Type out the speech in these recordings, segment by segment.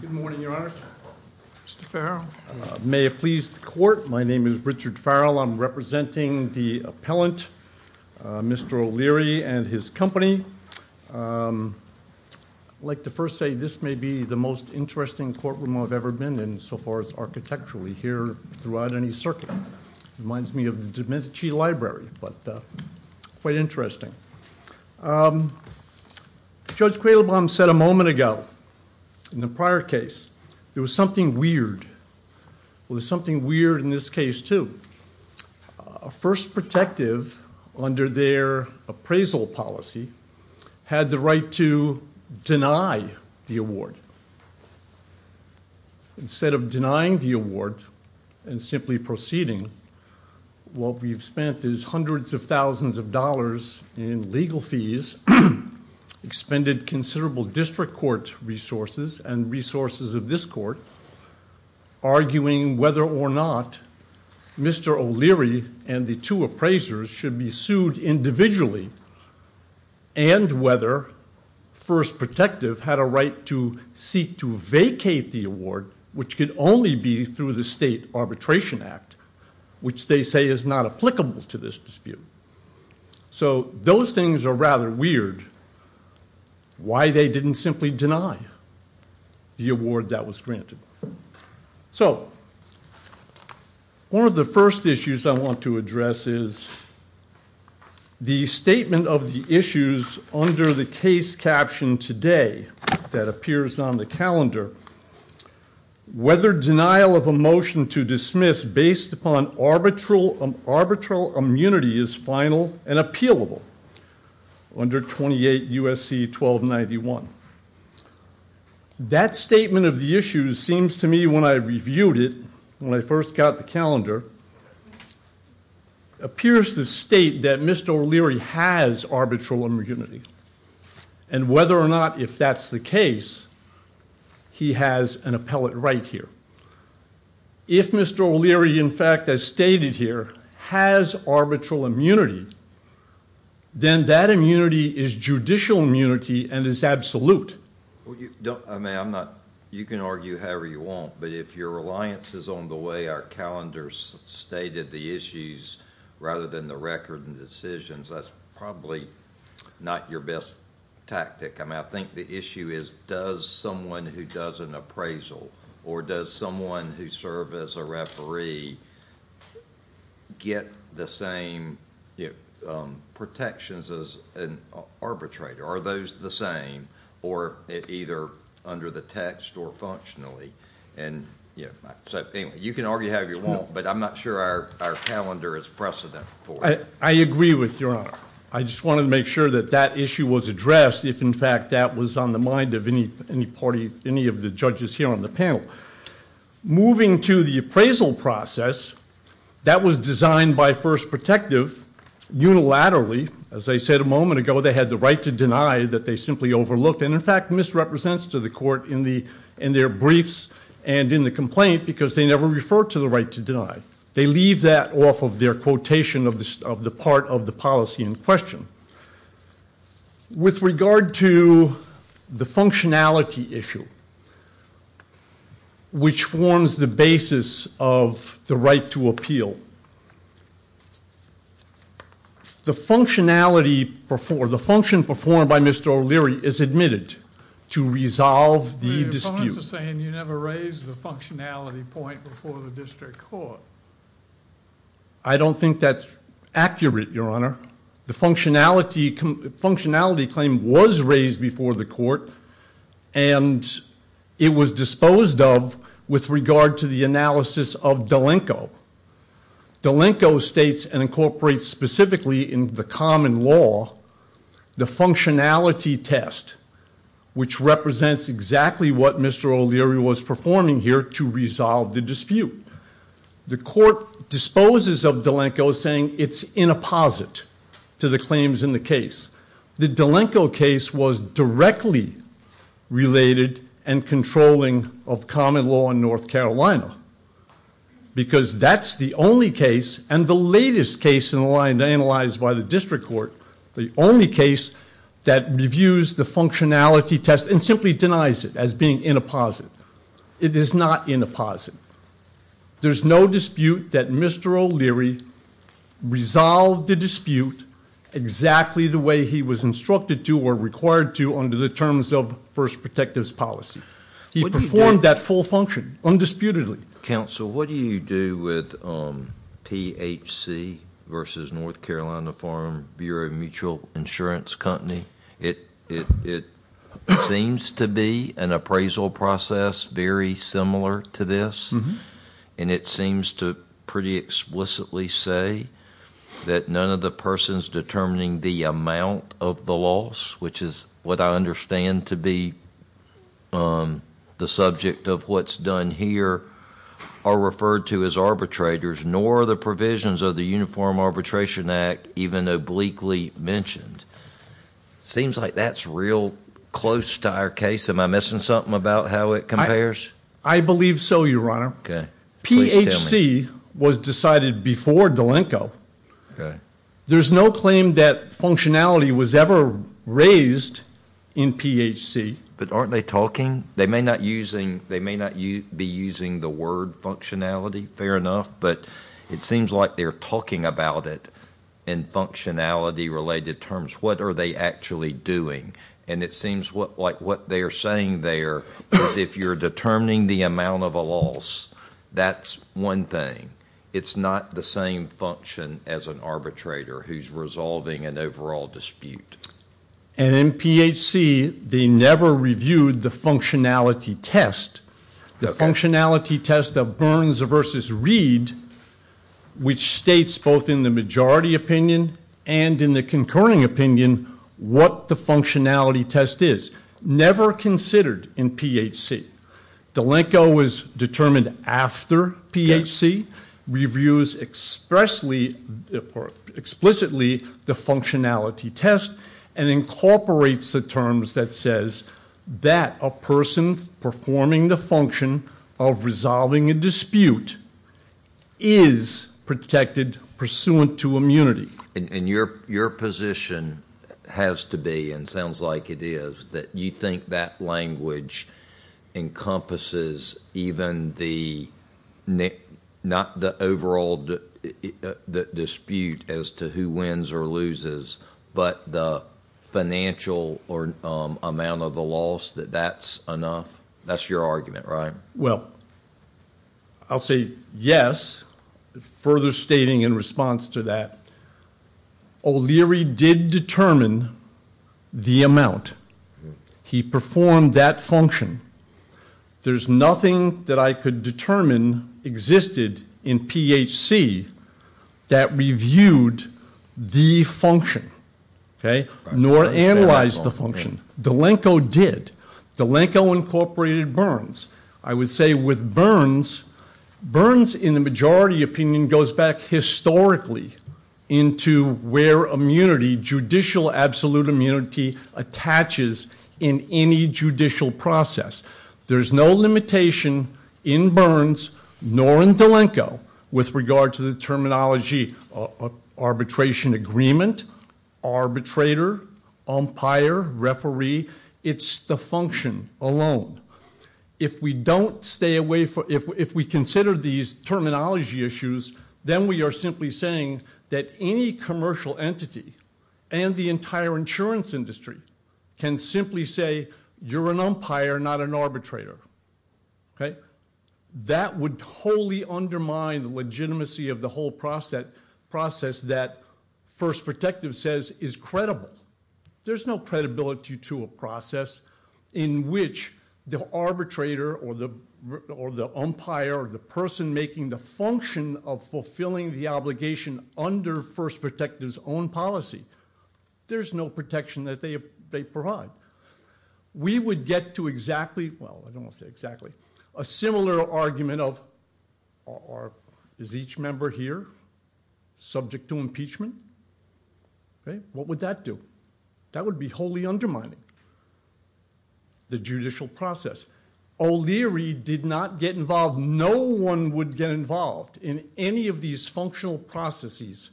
Good morning, Your Honor. Mr. Farrell. May it please the Court, my name is Richard Farrell. I'm representing the appellant, Mr. O'Leary and his company. I'd like to first say this may be the most interesting courtroom I've ever been in so far as architecturally here throughout any circuit. Reminds me of the Domenici Library, but quite interesting. Judge Cradlebaum said a moment ago in the prior case there was something weird. Well, there's something weird in this case, too. A first protective under their appraisal policy had the right to deny the award. Instead of denying the award and simply proceeding, what we've spent is hundreds of thousands of dollars in legal fees, expended considerable district court resources and resources of this court, arguing whether or not Mr. O'Leary and the two appraisers should be sued individually and whether first protective had a right to seek to vacate the award, which could only be through the State Arbitration Act, which they say is not applicable to this dispute. So those things are rather weird, why they didn't simply deny the award that was granted. So one of the first issues I want to address is the statement of the issues under the case caption today that appears on the calendar, whether denial of a motion to dismiss based upon arbitral immunity is final and appealable under 28 U.S.C. 1291. That statement of the issues seems to me when I reviewed it, when I first got the calendar, appears to state that Mr. O'Leary has arbitral immunity and whether or not, if that's the case, he has an appellate right here. If Mr. O'Leary, in fact, as stated here, has arbitral immunity, then that immunity is judicial immunity and is absolute. You can argue however you want, but if your reliance is on the way our calendars stated the issues rather than the record and decisions, that's probably not your best tactic. I think the issue is does someone who does an appraisal or does someone who serves as a referee get the same protections as an arbitrator? Are those the same or either under the text or functionally? You can argue however you want, but I'm not sure our calendar is precedent for it. I agree with Your Honor. I just wanted to make sure that that issue was addressed if, in fact, that was on the mind of any party, any of the judges here on the panel. Moving to the appraisal process, that was designed by First Protective unilaterally. As I said a moment ago, they had the right to deny that they simply overlooked and, in fact, misrepresents to the court in their briefs and in the complaint because they never referred to the right to deny. They leave that off of their quotation of the part of the policy in question. With regard to the functionality issue, which forms the basis of the right to appeal, the function performed by Mr. O'Leary is admitted to resolve the dispute. You're also saying you never raised the functionality point before the district court. I don't think that's accurate, Your Honor. The functionality claim was raised before the court, and it was disposed of with regard to the analysis of Dolenko. Dolenko states and incorporates specifically in the common law the functionality test, which represents exactly what Mr. O'Leary was performing here to resolve the dispute. The court disposes of Dolenko, saying it's in apposite to the claims in the case. The Dolenko case was directly related and controlling of common law in North Carolina because that's the only case and the latest case analyzed by the district court, the only case that reviews the functionality test and simply denies it as being in apposite. It is not in apposite. There's no dispute that Mr. O'Leary resolved the dispute exactly the way he was instructed to or required to under the terms of First Protective's policy. He performed that full function undisputedly. Counsel, what do you do with PHC versus North Carolina Farm Bureau Mutual Insurance Company? It seems to be an appraisal process very similar to this, and it seems to pretty explicitly say that none of the persons determining the amount of the loss, which is what I understand to be the subject of what's done here, are referred to as arbitrators, nor are the provisions of the Uniform Arbitration Act even obliquely mentioned. It seems like that's real close to our case. Am I missing something about how it compares? I believe so, Your Honor. PHC was decided before Dolenko. There's no claim that functionality was ever raised in PHC. But aren't they talking? They may not be using the word functionality, fair enough, but it seems like they're talking about it in functionality-related terms. What are they actually doing? And it seems like what they're saying there is if you're determining the amount of a loss, that's one thing. It's not the same function as an arbitrator who's resolving an overall dispute. And in PHC, they never reviewed the functionality test. The functionality test of Burns v. Reed, which states both in the majority opinion and in the concurring opinion what the functionality test is, never considered in PHC. Dolenko was determined after PHC, reviews explicitly the functionality test, and incorporates the terms that says that a person performing the function of resolving a dispute is protected pursuant to immunity. And your position has to be, and sounds like it is, that you think that language encompasses even the, not the overall dispute as to who wins or loses, but the financial amount of the loss, that that's enough? That's your argument, right? Well, I'll say yes, further stating in response to that, O'Leary did determine the amount. He performed that function. There's nothing that I could determine existed in PHC that reviewed the function, nor analyzed the function. Dolenko did. Dolenko incorporated Burns. I would say with Burns, Burns in the majority opinion goes back historically into where immunity, judicial absolute immunity, attaches in any judicial process. There's no limitation in Burns, nor in Dolenko, with regard to the terminology arbitration agreement, arbitrator, umpire, referee. It's the function alone. If we don't stay away from, if we consider these terminology issues, then we are simply saying that any commercial entity and the entire insurance industry can simply say, you're an umpire, not an arbitrator, okay? That would wholly undermine the legitimacy of the whole process that First Protective says is credible. There's no credibility to a process in which the arbitrator or the umpire or the person making the function of fulfilling the obligation under First Protective's own policy. There's no protection that they provide. We would get to exactly, well, I don't want to say exactly, a similar argument of, is each member here subject to impeachment? What would that do? That would be wholly undermining the judicial process. O'Leary did not get involved. No one would get involved in any of these functional processes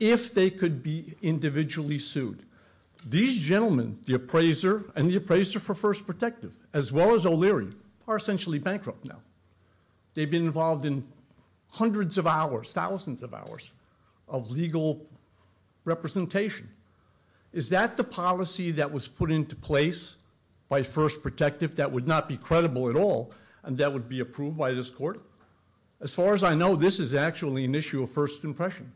if they could be individually sued. These gentlemen, the appraiser and the appraiser for First Protective, as well as O'Leary, are essentially bankrupt now. They've been involved in hundreds of hours, thousands of hours of legal representation. Is that the policy that was put into place by First Protective that would not be credible at all and that would be approved by this court? As far as I know, this is actually an issue of first impression.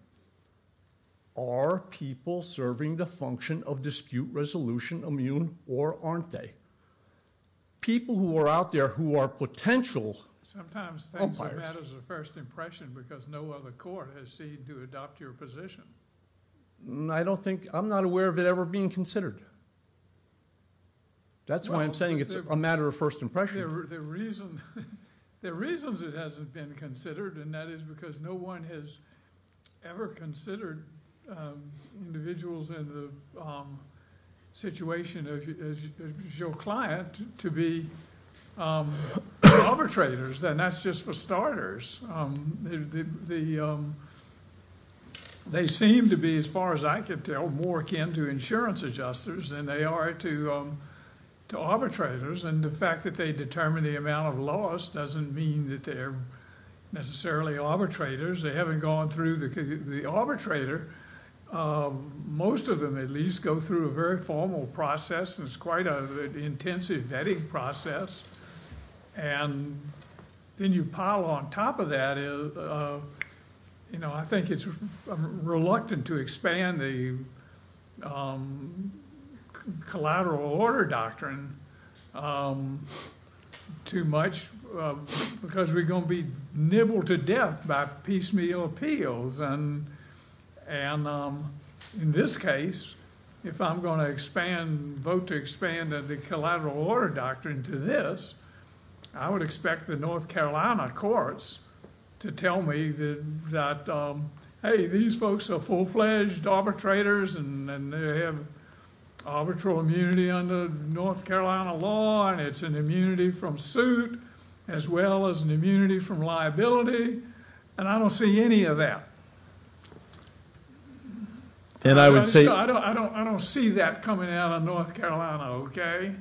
Are people serving the function of dispute resolution immune or aren't they? People who are out there who are potential umpires. Sometimes things are matters of first impression because no other court has seen to adopt your position. I don't think – I'm not aware of it ever being considered. That's why I'm saying it's a matter of first impression. There are reasons it hasn't been considered and that is because no one has ever considered individuals in the situation as your client to be arbitrators. That's just for starters. They seem to be, as far as I can tell, more akin to insurance adjusters than they are to arbitrators and the fact that they determine the amount of loss doesn't mean that they're necessarily arbitrators. They haven't gone through the arbitrator. Most of them at least go through a very formal process and it's quite an intensive vetting process. Then you pile on top of that – I think it's reluctant to expand the collateral order doctrine too much because we're going to be nibbled to death by piecemeal appeals. In this case, if I'm going to vote to expand the collateral order doctrine to this, I would expect the North Carolina courts to tell me that hey, these folks are full-fledged arbitrators and they have arbitral immunity under North Carolina law and it's an immunity from suit as well as an immunity from liability and I don't see any of that. I don't see that coming out of North Carolina, okay?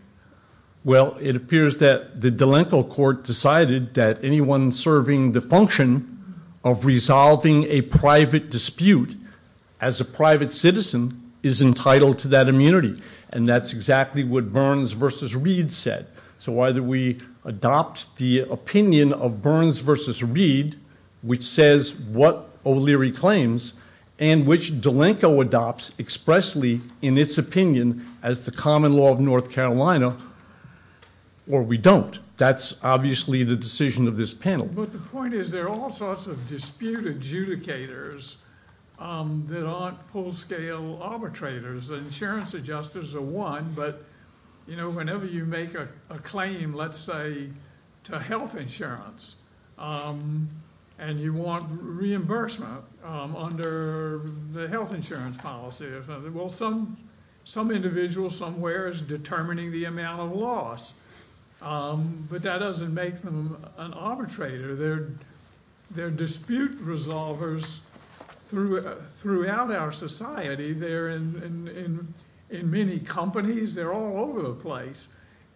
Well, it appears that the D'Alenco court decided that anyone serving the function of resolving a private dispute as a private citizen is entitled to that immunity and that's exactly what Burns v. Reed said. So either we adopt the opinion of Burns v. Reed which says what O'Leary claims and which D'Alenco adopts expressly in its opinion as the common law of North Carolina or we don't. That's obviously the decision of this panel. But the point is there are all sorts of dispute adjudicators that aren't full-scale arbitrators. Insurance adjusters are one but, you know, whenever you make a claim, let's say, to health insurance and you want reimbursement under the health insurance policy. Well, some individual somewhere is determining the amount of loss but that doesn't make them an arbitrator. They're dispute resolvers throughout our society. They're in many companies. They're all over the place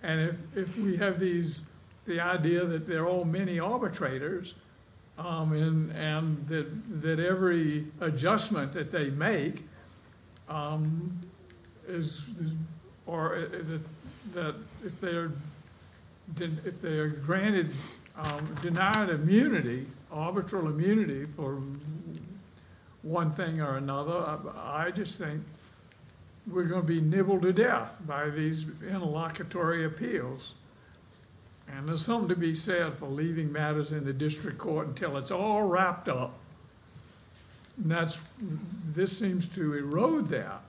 and if we have the idea that they're all mini-arbitrators and that every adjustment that they make is or that if they're granted denied immunity, arbitral immunity for one thing or another, I just think we're going to be nibbled to death by these interlocutory appeals. And there's something to be said for leaving matters in the district court until it's all wrapped up. This seems to erode that.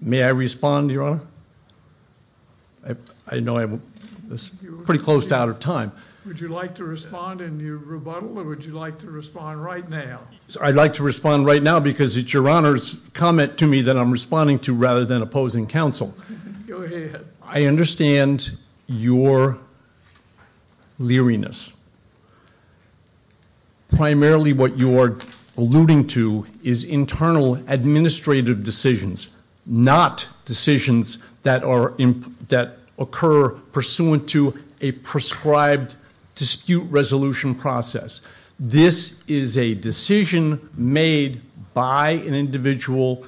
May I respond, Your Honor? I know I'm pretty close to out of time. Would you like to respond in your rebuttal or would you like to respond right now? I'd like to respond right now because it's Your Honor's comment to me that I'm responding to rather than opposing counsel. Go ahead. I understand your leeriness. Primarily what you're alluding to is internal administrative decisions, not decisions that occur pursuant to a prescribed dispute resolution process. This is a decision made by an individual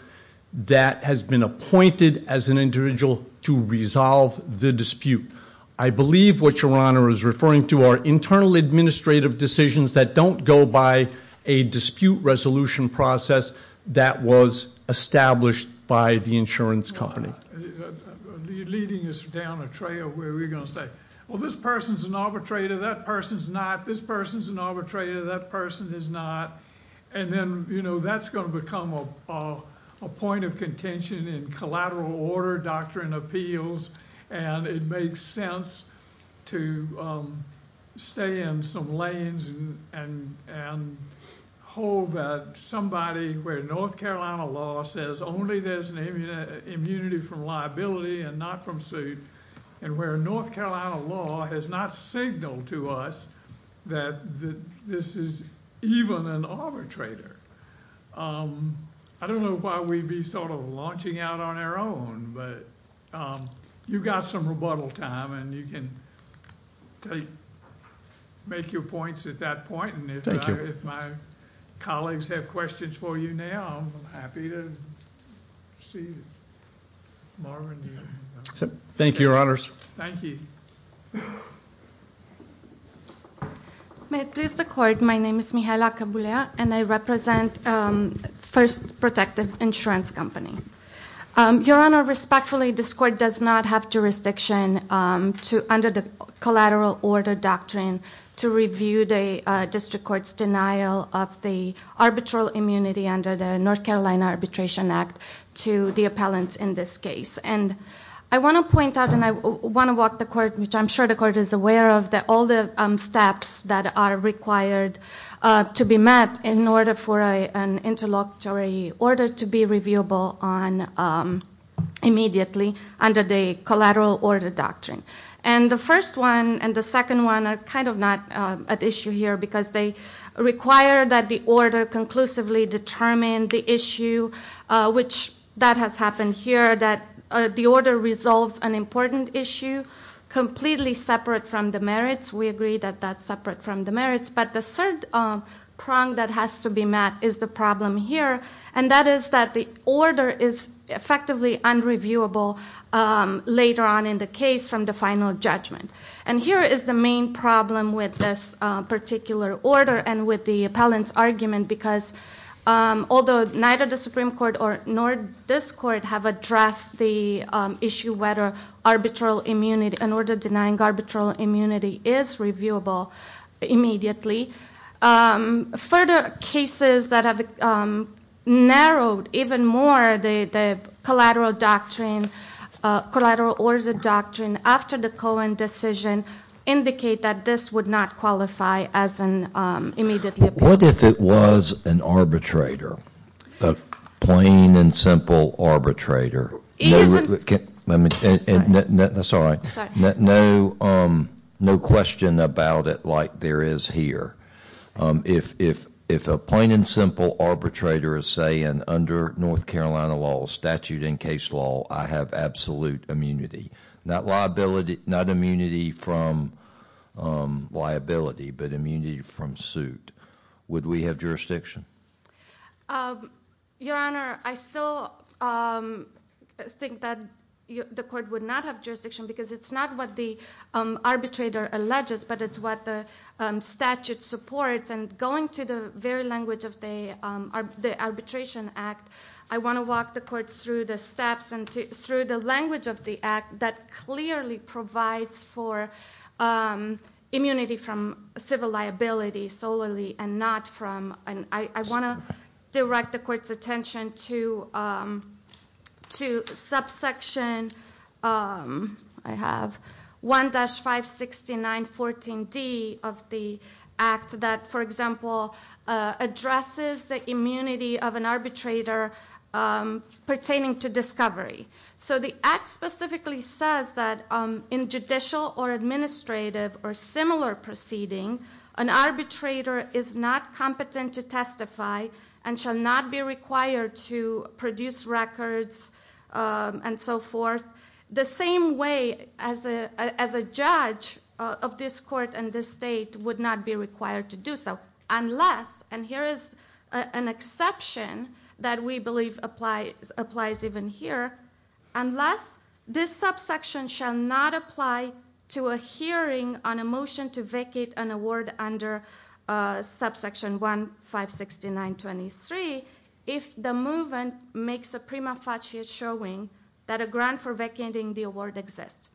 that has been appointed as an individual to resolve the dispute. I believe what Your Honor is referring to are internal administrative decisions that don't go by a dispute resolution process that was established by the insurance company. You're leading us down a trail where we're going to say, well, this person's an arbitrator, that person's not, this person's an arbitrator, that person is not, and then, you know, that's going to become a point of contention in collateral order doctrine appeals and it makes sense to stay in some lanes and hold somebody where North Carolina law says only there's an immunity from liability and not from suit and where North Carolina law has not signaled to us that this is even an arbitrator. I don't know why we'd be sort of launching out on our own, but you've got some rebuttal time and you can make your points at that point. Thank you. If my colleagues have questions for you now, I'm happy to see Marvin. Thank you, Your Honors. Thank you. May it please the Court, my name is Mihaela Cabrera and I represent First Protective Insurance Company. Your Honor, respectfully, this court does not have jurisdiction under the collateral order doctrine to review the district court's denial of the arbitral immunity under the North Carolina Arbitration Act to the appellants in this case. And I want to point out and I want to walk the Court, which I'm sure the Court is aware of, that all the steps that are required to be met in order for an interlocutory order to be reviewable on immediately under the collateral order doctrine. And the first one and the second one are kind of not at issue here because they require that the order conclusively determine the issue, which that has happened here, that the order resolves an important issue completely separate from the merits. We agree that that's separate from the merits. But the third prong that has to be met is the problem here, and that is that the order is effectively unreviewable later on in the case from the final judgment. And here is the main problem with this particular order and with the appellant's argument because although neither the Supreme Court nor this Court have addressed the issue whether arbitral immunity, an order denying arbitral immunity, is reviewable immediately, further cases that have narrowed even more the collateral doctrine, collateral order doctrine, after the Cohen decision indicate that this would not qualify as an immediate appeal. What if it was an arbitrator, a plain and simple arbitrator? No question about it like there is here. If a plain and simple arbitrator is saying under North Carolina law, statute and case law, I have absolute immunity, not liability, not immunity from liability, but immunity from suit. Would we have jurisdiction? Your Honor, I still think that the Court would not have jurisdiction because it's not what the arbitrator alleges, but it's what the statute supports. And going to the very language of the Arbitration Act, I want to walk the Court through the steps and through the language of the Act that clearly provides for immunity from civil liability solely and not from. I want to direct the Court's attention to subsection 1-56914D of the Act that, for example, addresses the immunity of an arbitrator pertaining to discovery. So the Act specifically says that in judicial or administrative or similar proceeding, an arbitrator is not competent to testify and shall not be required to produce records and so forth the same way as a judge of this Court and this State would not be required to do so unless, and here is an exception that we believe applies even here, unless this subsection shall not apply to a hearing on a motion to vacate an award under subsection 1-56923 if the movement makes a prima facie showing that a grant for vacating the award exists.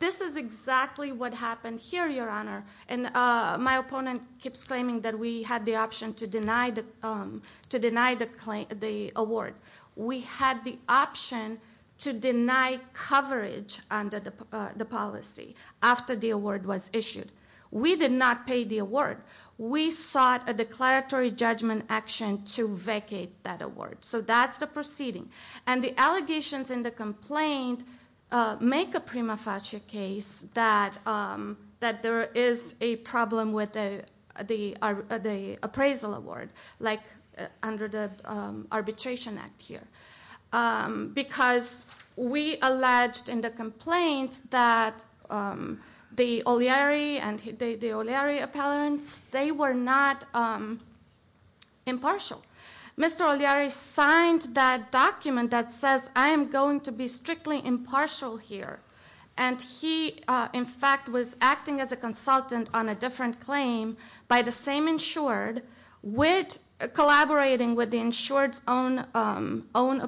This is exactly what happened here, Your Honor, and my opponent keeps claiming that we had the option to deny the award. We had the option to deny coverage under the policy after the award was issued. We did not pay the award. We sought a declaratory judgment action to vacate that award, so that's the proceeding. And the allegations in the complaint make a prima facie case that there is a problem with the appraisal award like under the Arbitration Act here because we alleged in the complaint that the O'Leary and the O'Leary appellants, they were not impartial. Mr. O'Leary signed that document that says I am going to be strictly impartial here, and he in fact was acting as a consultant on a different claim by the same insured collaborating with the insured's own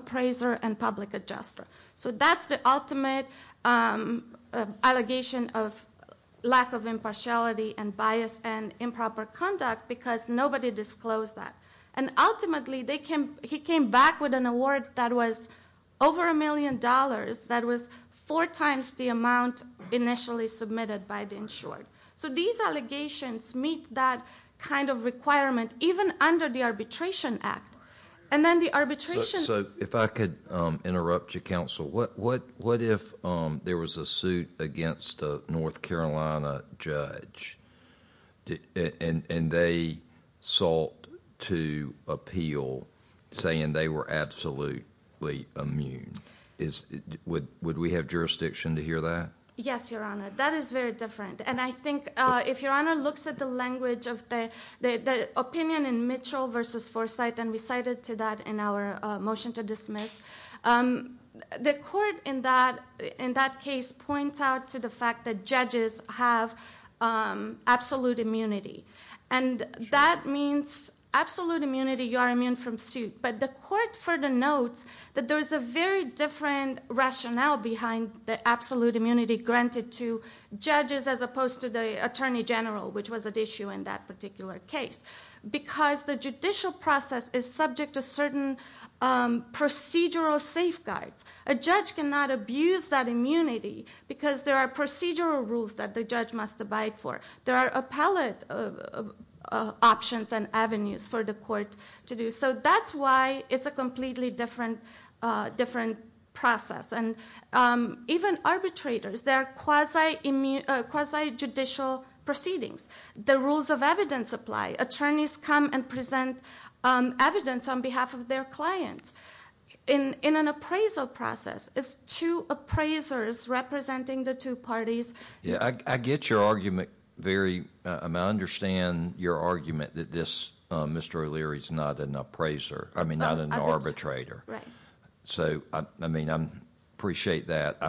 appraiser and public adjuster. So that's the ultimate allegation of lack of impartiality and bias and improper conduct because nobody disclosed that. And ultimately he came back with an award that was over a million dollars that was four times the amount initially submitted by the insured. So these allegations meet that kind of requirement even under the Arbitration Act. So if I could interrupt you counsel, what if there was a suit against a North Carolina judge and they sought to appeal saying they were absolutely immune? Would we have jurisdiction to hear that? Yes, Your Honor, that is very different. And I think if Your Honor looks at the language of the opinion in Mitchell v. Forsythe, and we cited to that in our motion to dismiss, the court in that case points out to the fact that judges have absolute immunity. And that means absolute immunity, you are immune from suit. But the court further notes that there is a very different rationale behind the absolute immunity granted to judges as opposed to the attorney general, which was at issue in that particular case. Because the judicial process is subject to certain procedural safeguards. A judge cannot abuse that immunity because there are procedural rules that the judge must abide for. There are appellate options and avenues for the court to do so. So that's why it's a completely different process. And even arbitrators, there are quasi-judicial proceedings. The rules of evidence apply. Attorneys come and present evidence on behalf of their clients in an appraisal process. It's two appraisers representing the two parties. I get your argument. I understand your argument that Mr. O'Leary is not an arbitrator. I appreciate that.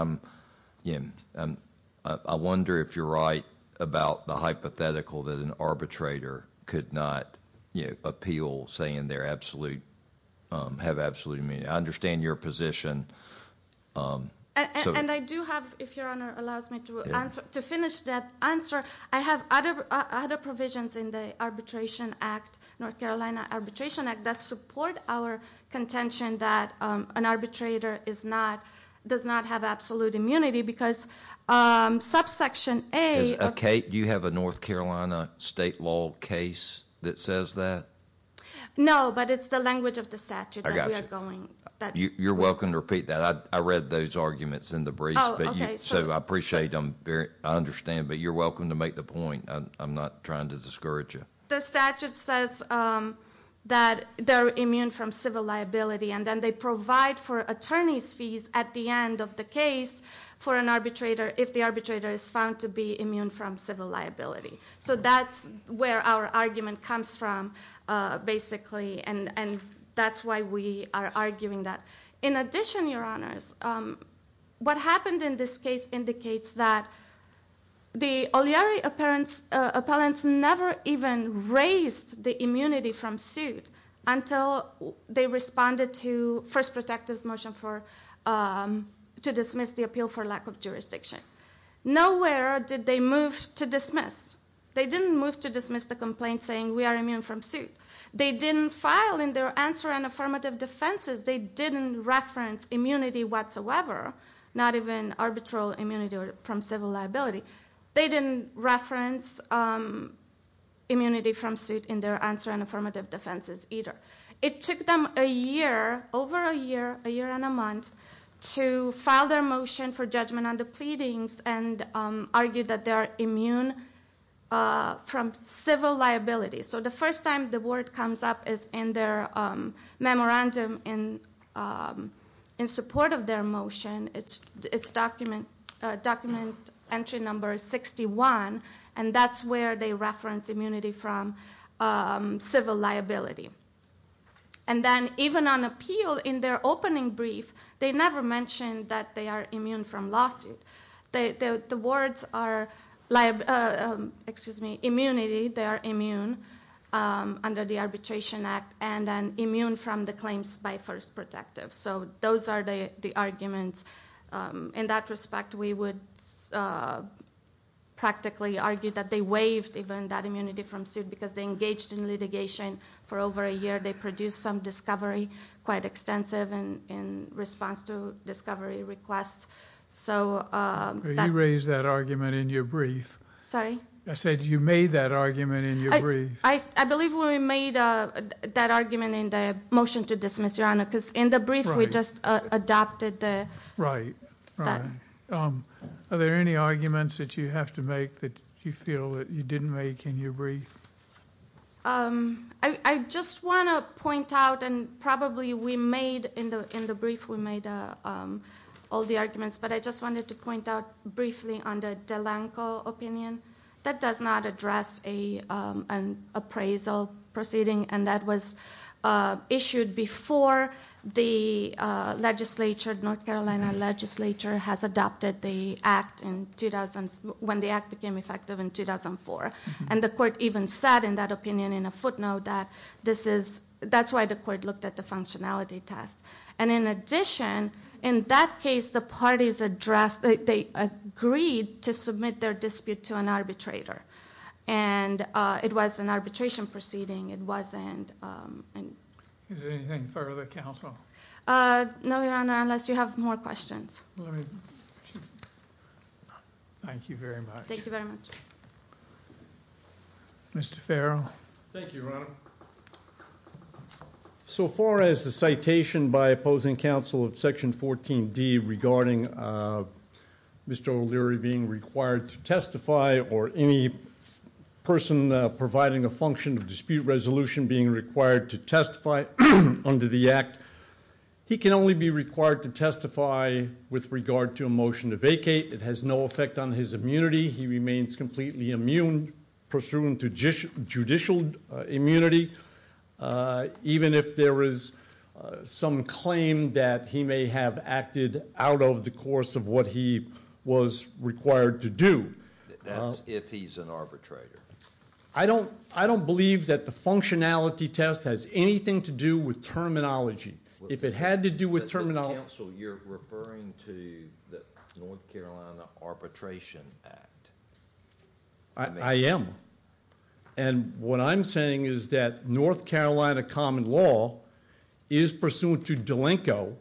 I wonder if you're right about the hypothetical that an arbitrator could not appeal saying they have absolute immunity. I understand your position. And I do have, if Your Honor allows me to finish that answer, I have other provisions in the Arbitration Act, North Carolina Arbitration Act, that support our contention that an arbitrator does not have absolute immunity because subsection A- Kate, do you have a North Carolina state law case that says that? No, but it's the language of the statute that we are going- You're welcome to repeat that. I read those arguments in the briefs, so I appreciate them. I understand, but you're welcome to make the point. I'm not trying to discourage you. The statute says that they're immune from civil liability, and then they provide for attorney's fees at the end of the case for an arbitrator if the arbitrator is found to be immune from civil liability. So that's where our argument comes from, basically, and that's why we are arguing that. In addition, Your Honors, what happened in this case indicates that the Oliari appellants never even raised the immunity from suit until they responded to First Protective's motion to dismiss the appeal for lack of jurisdiction. Nowhere did they move to dismiss. They didn't move to dismiss the complaint saying we are immune from suit. They didn't file in their answer and affirmative defenses. They didn't reference immunity whatsoever, not even arbitral immunity from civil liability. They didn't reference immunity from suit in their answer and affirmative defenses either. It took them a year, over a year, a year and a month, to file their motion for judgment on the pleadings and argue that they are immune from civil liability. So the first time the word comes up is in their memorandum in support of their motion. It's document entry number 61, and that's where they reference immunity from civil liability. And then even on appeal, in their opening brief, they never mentioned that they are immune from lawsuit. The words are immunity, they are immune under the Arbitration Act, and then immune from the claims by First Protective. So those are the arguments. In that respect, we would practically argue that they waived even that immunity from suit because they engaged in litigation for over a year. They produced some discovery, quite extensive, in response to discovery requests. You raised that argument in your brief. Sorry? I said you made that argument in your brief. I believe we made that argument in the motion to dismiss, Your Honor, because in the brief we just adopted that. Right, right. Are there any arguments that you have to make that you feel that you didn't make in your brief? I just want to point out, and probably we made in the brief, we made all the arguments, but I just wanted to point out briefly on the Delanco opinion. That does not address an appraisal proceeding, and that was issued before the legislature, North Carolina legislature, has adopted the act when the act became effective in 2004. The court even said in that opinion in a footnote that that's why the court looked at the functionality test. In addition, in that case, the parties agreed to submit their dispute to an arbitrator. It was an arbitration proceeding. Is there anything further, counsel? No, Your Honor, unless you have more questions. Thank you very much. Thank you very much. Mr. Farrell. Thank you, Your Honor. So far as the citation by opposing counsel of Section 14D regarding Mr. O'Leary being required to testify or any person providing a function of dispute resolution being required to testify under the act, he can only be required to testify with regard to a motion to vacate. It has no effect on his immunity. He remains completely immune pursuant to judicial immunity, even if there is some claim that he may have acted out of the course of what he was required to do. That's if he's an arbitrator. I don't believe that the functionality test has anything to do with terminology. If it had to do with terminology— Counsel, you're referring to the North Carolina Arbitration Act. I am. And what I'm saying is that North Carolina common law is pursuant to D'Alenco,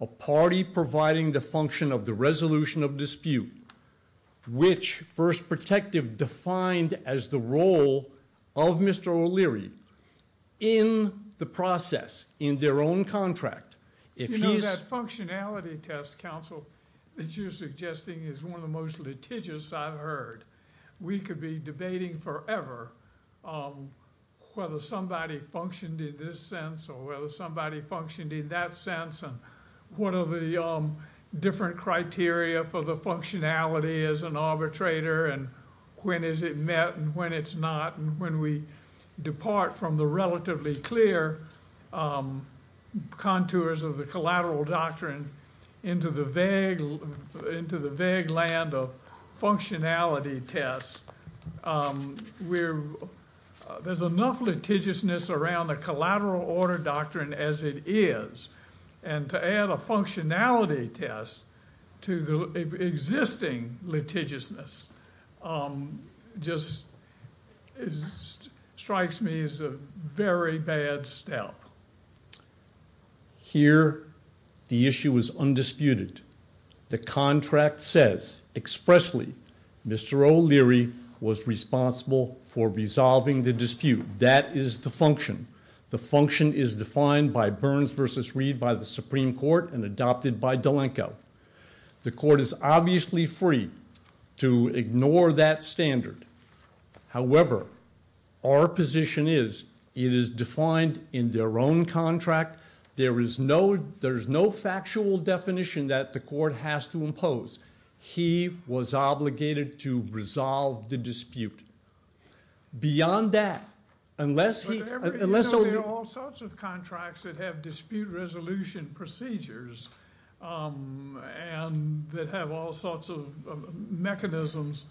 a party providing the function of the resolution of dispute, which First Protective defined as the role of Mr. O'Leary in the process, in their own contract. You know, that functionality test, counsel, that you're suggesting is one of the most litigious I've heard. We could be debating forever whether somebody functioned in this sense or whether somebody functioned in that sense, and what are the different criteria for the functionality as an arbitrator, and when is it met and when it's not, and when we depart from the relatively clear contours of the collateral doctrine into the vague land of functionality tests. There's enough litigiousness around the collateral order doctrine as it is, and to add a functionality test to the existing litigiousness just strikes me as a very bad step. Here, the issue is undisputed. The contract says expressly Mr. O'Leary was responsible for resolving the dispute. That is the function. The function is defined by Burns v. Reed by the Supreme Court and adopted by D'Alenco. The court is obviously free to ignore that standard. However, our position is it is defined in their own contract. There is no factual definition that the court has to impose. He was obligated to resolve the dispute. Beyond that, unless O'Leary— There are all sorts of contracts that have dispute resolution procedures and that have all sorts of mechanisms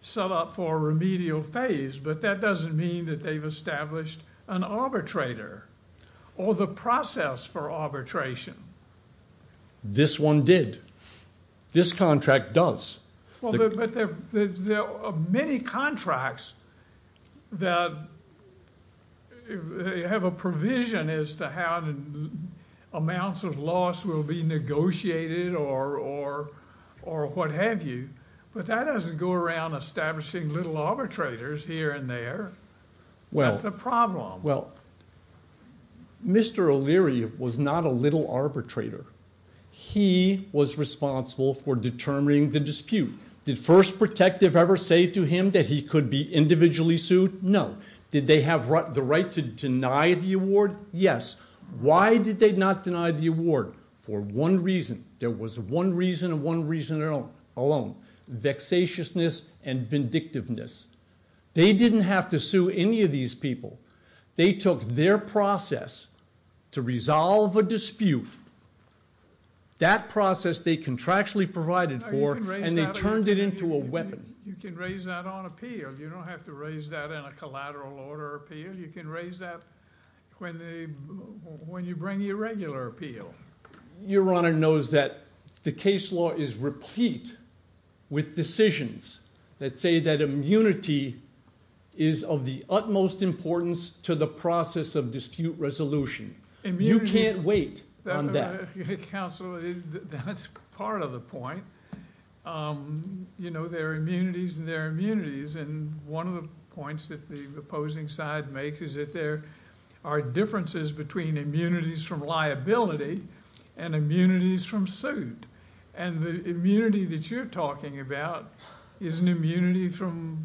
set up for remedial phase, but that doesn't mean that they've established an arbitrator or the process for arbitration. This one did. This contract does. But there are many contracts that have a provision as to how amounts of loss will be negotiated or what have you, but that doesn't go around establishing little arbitrators here and there. That's the problem. Well, Mr. O'Leary was not a little arbitrator. He was responsible for determining the dispute. Did First Protective ever say to him that he could be individually sued? No. Did they have the right to deny the award? Yes. Why did they not deny the award? For one reason. There was one reason and one reason alone. Vexatiousness and vindictiveness. They didn't have to sue any of these people. They took their process to resolve a dispute, that process they contractually provided for, and they turned it into a weapon. You can raise that on appeal. You don't have to raise that in a collateral order appeal. You can raise that when you bring the irregular appeal. Your Honor knows that the case law is replete with decisions that say that immunity is of the utmost importance to the process of dispute resolution. You can't wait on that. Counsel, that's part of the point. There are immunities and there are immunities, and one of the points that the opposing side makes is that there are differences between immunities from liability and immunities from suit. And the immunity that you're talking about is an immunity from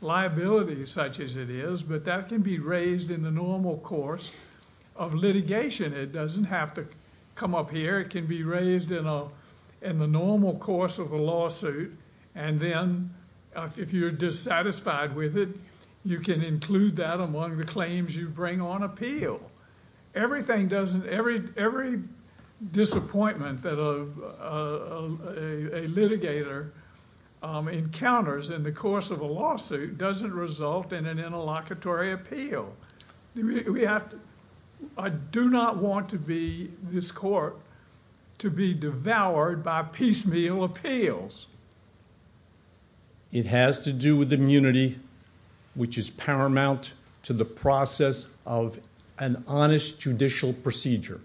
liability such as it is, but that can be raised in the normal course of litigation. It doesn't have to come up here. It can be raised in the normal course of a lawsuit, and then if you're dissatisfied with it, you can include that among the claims you bring on appeal. Every disappointment that a litigator encounters in the course of a lawsuit doesn't result in an interlocutory appeal. We have to... I do not want this court to be devoured by piecemeal appeals. It has to do with immunity, which is paramount to the process of an honest judicial procedure.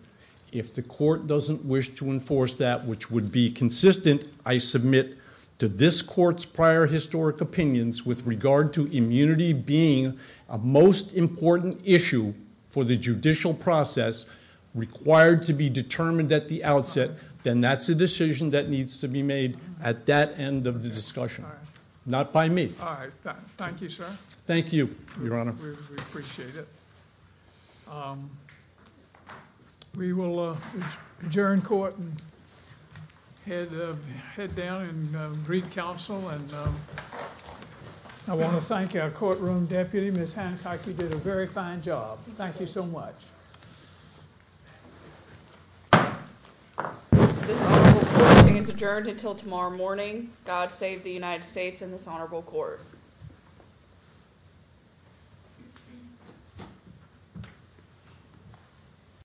If the court doesn't wish to enforce that, which would be consistent, I submit to this court's prior historic opinions with regard to immunity being a most important issue for the judicial process required to be determined at the outset, then that's a decision that needs to be made at that end of the discussion, not by me. All right. Thank you, sir. Thank you, Your Honor. We appreciate it. We will adjourn court and head down and greet counsel. I want to thank our courtroom deputy. Ms. Hancock, you did a very fine job. Thank you so much. This honorable court meeting is adjourned until tomorrow morning. God save the United States and this honorable court.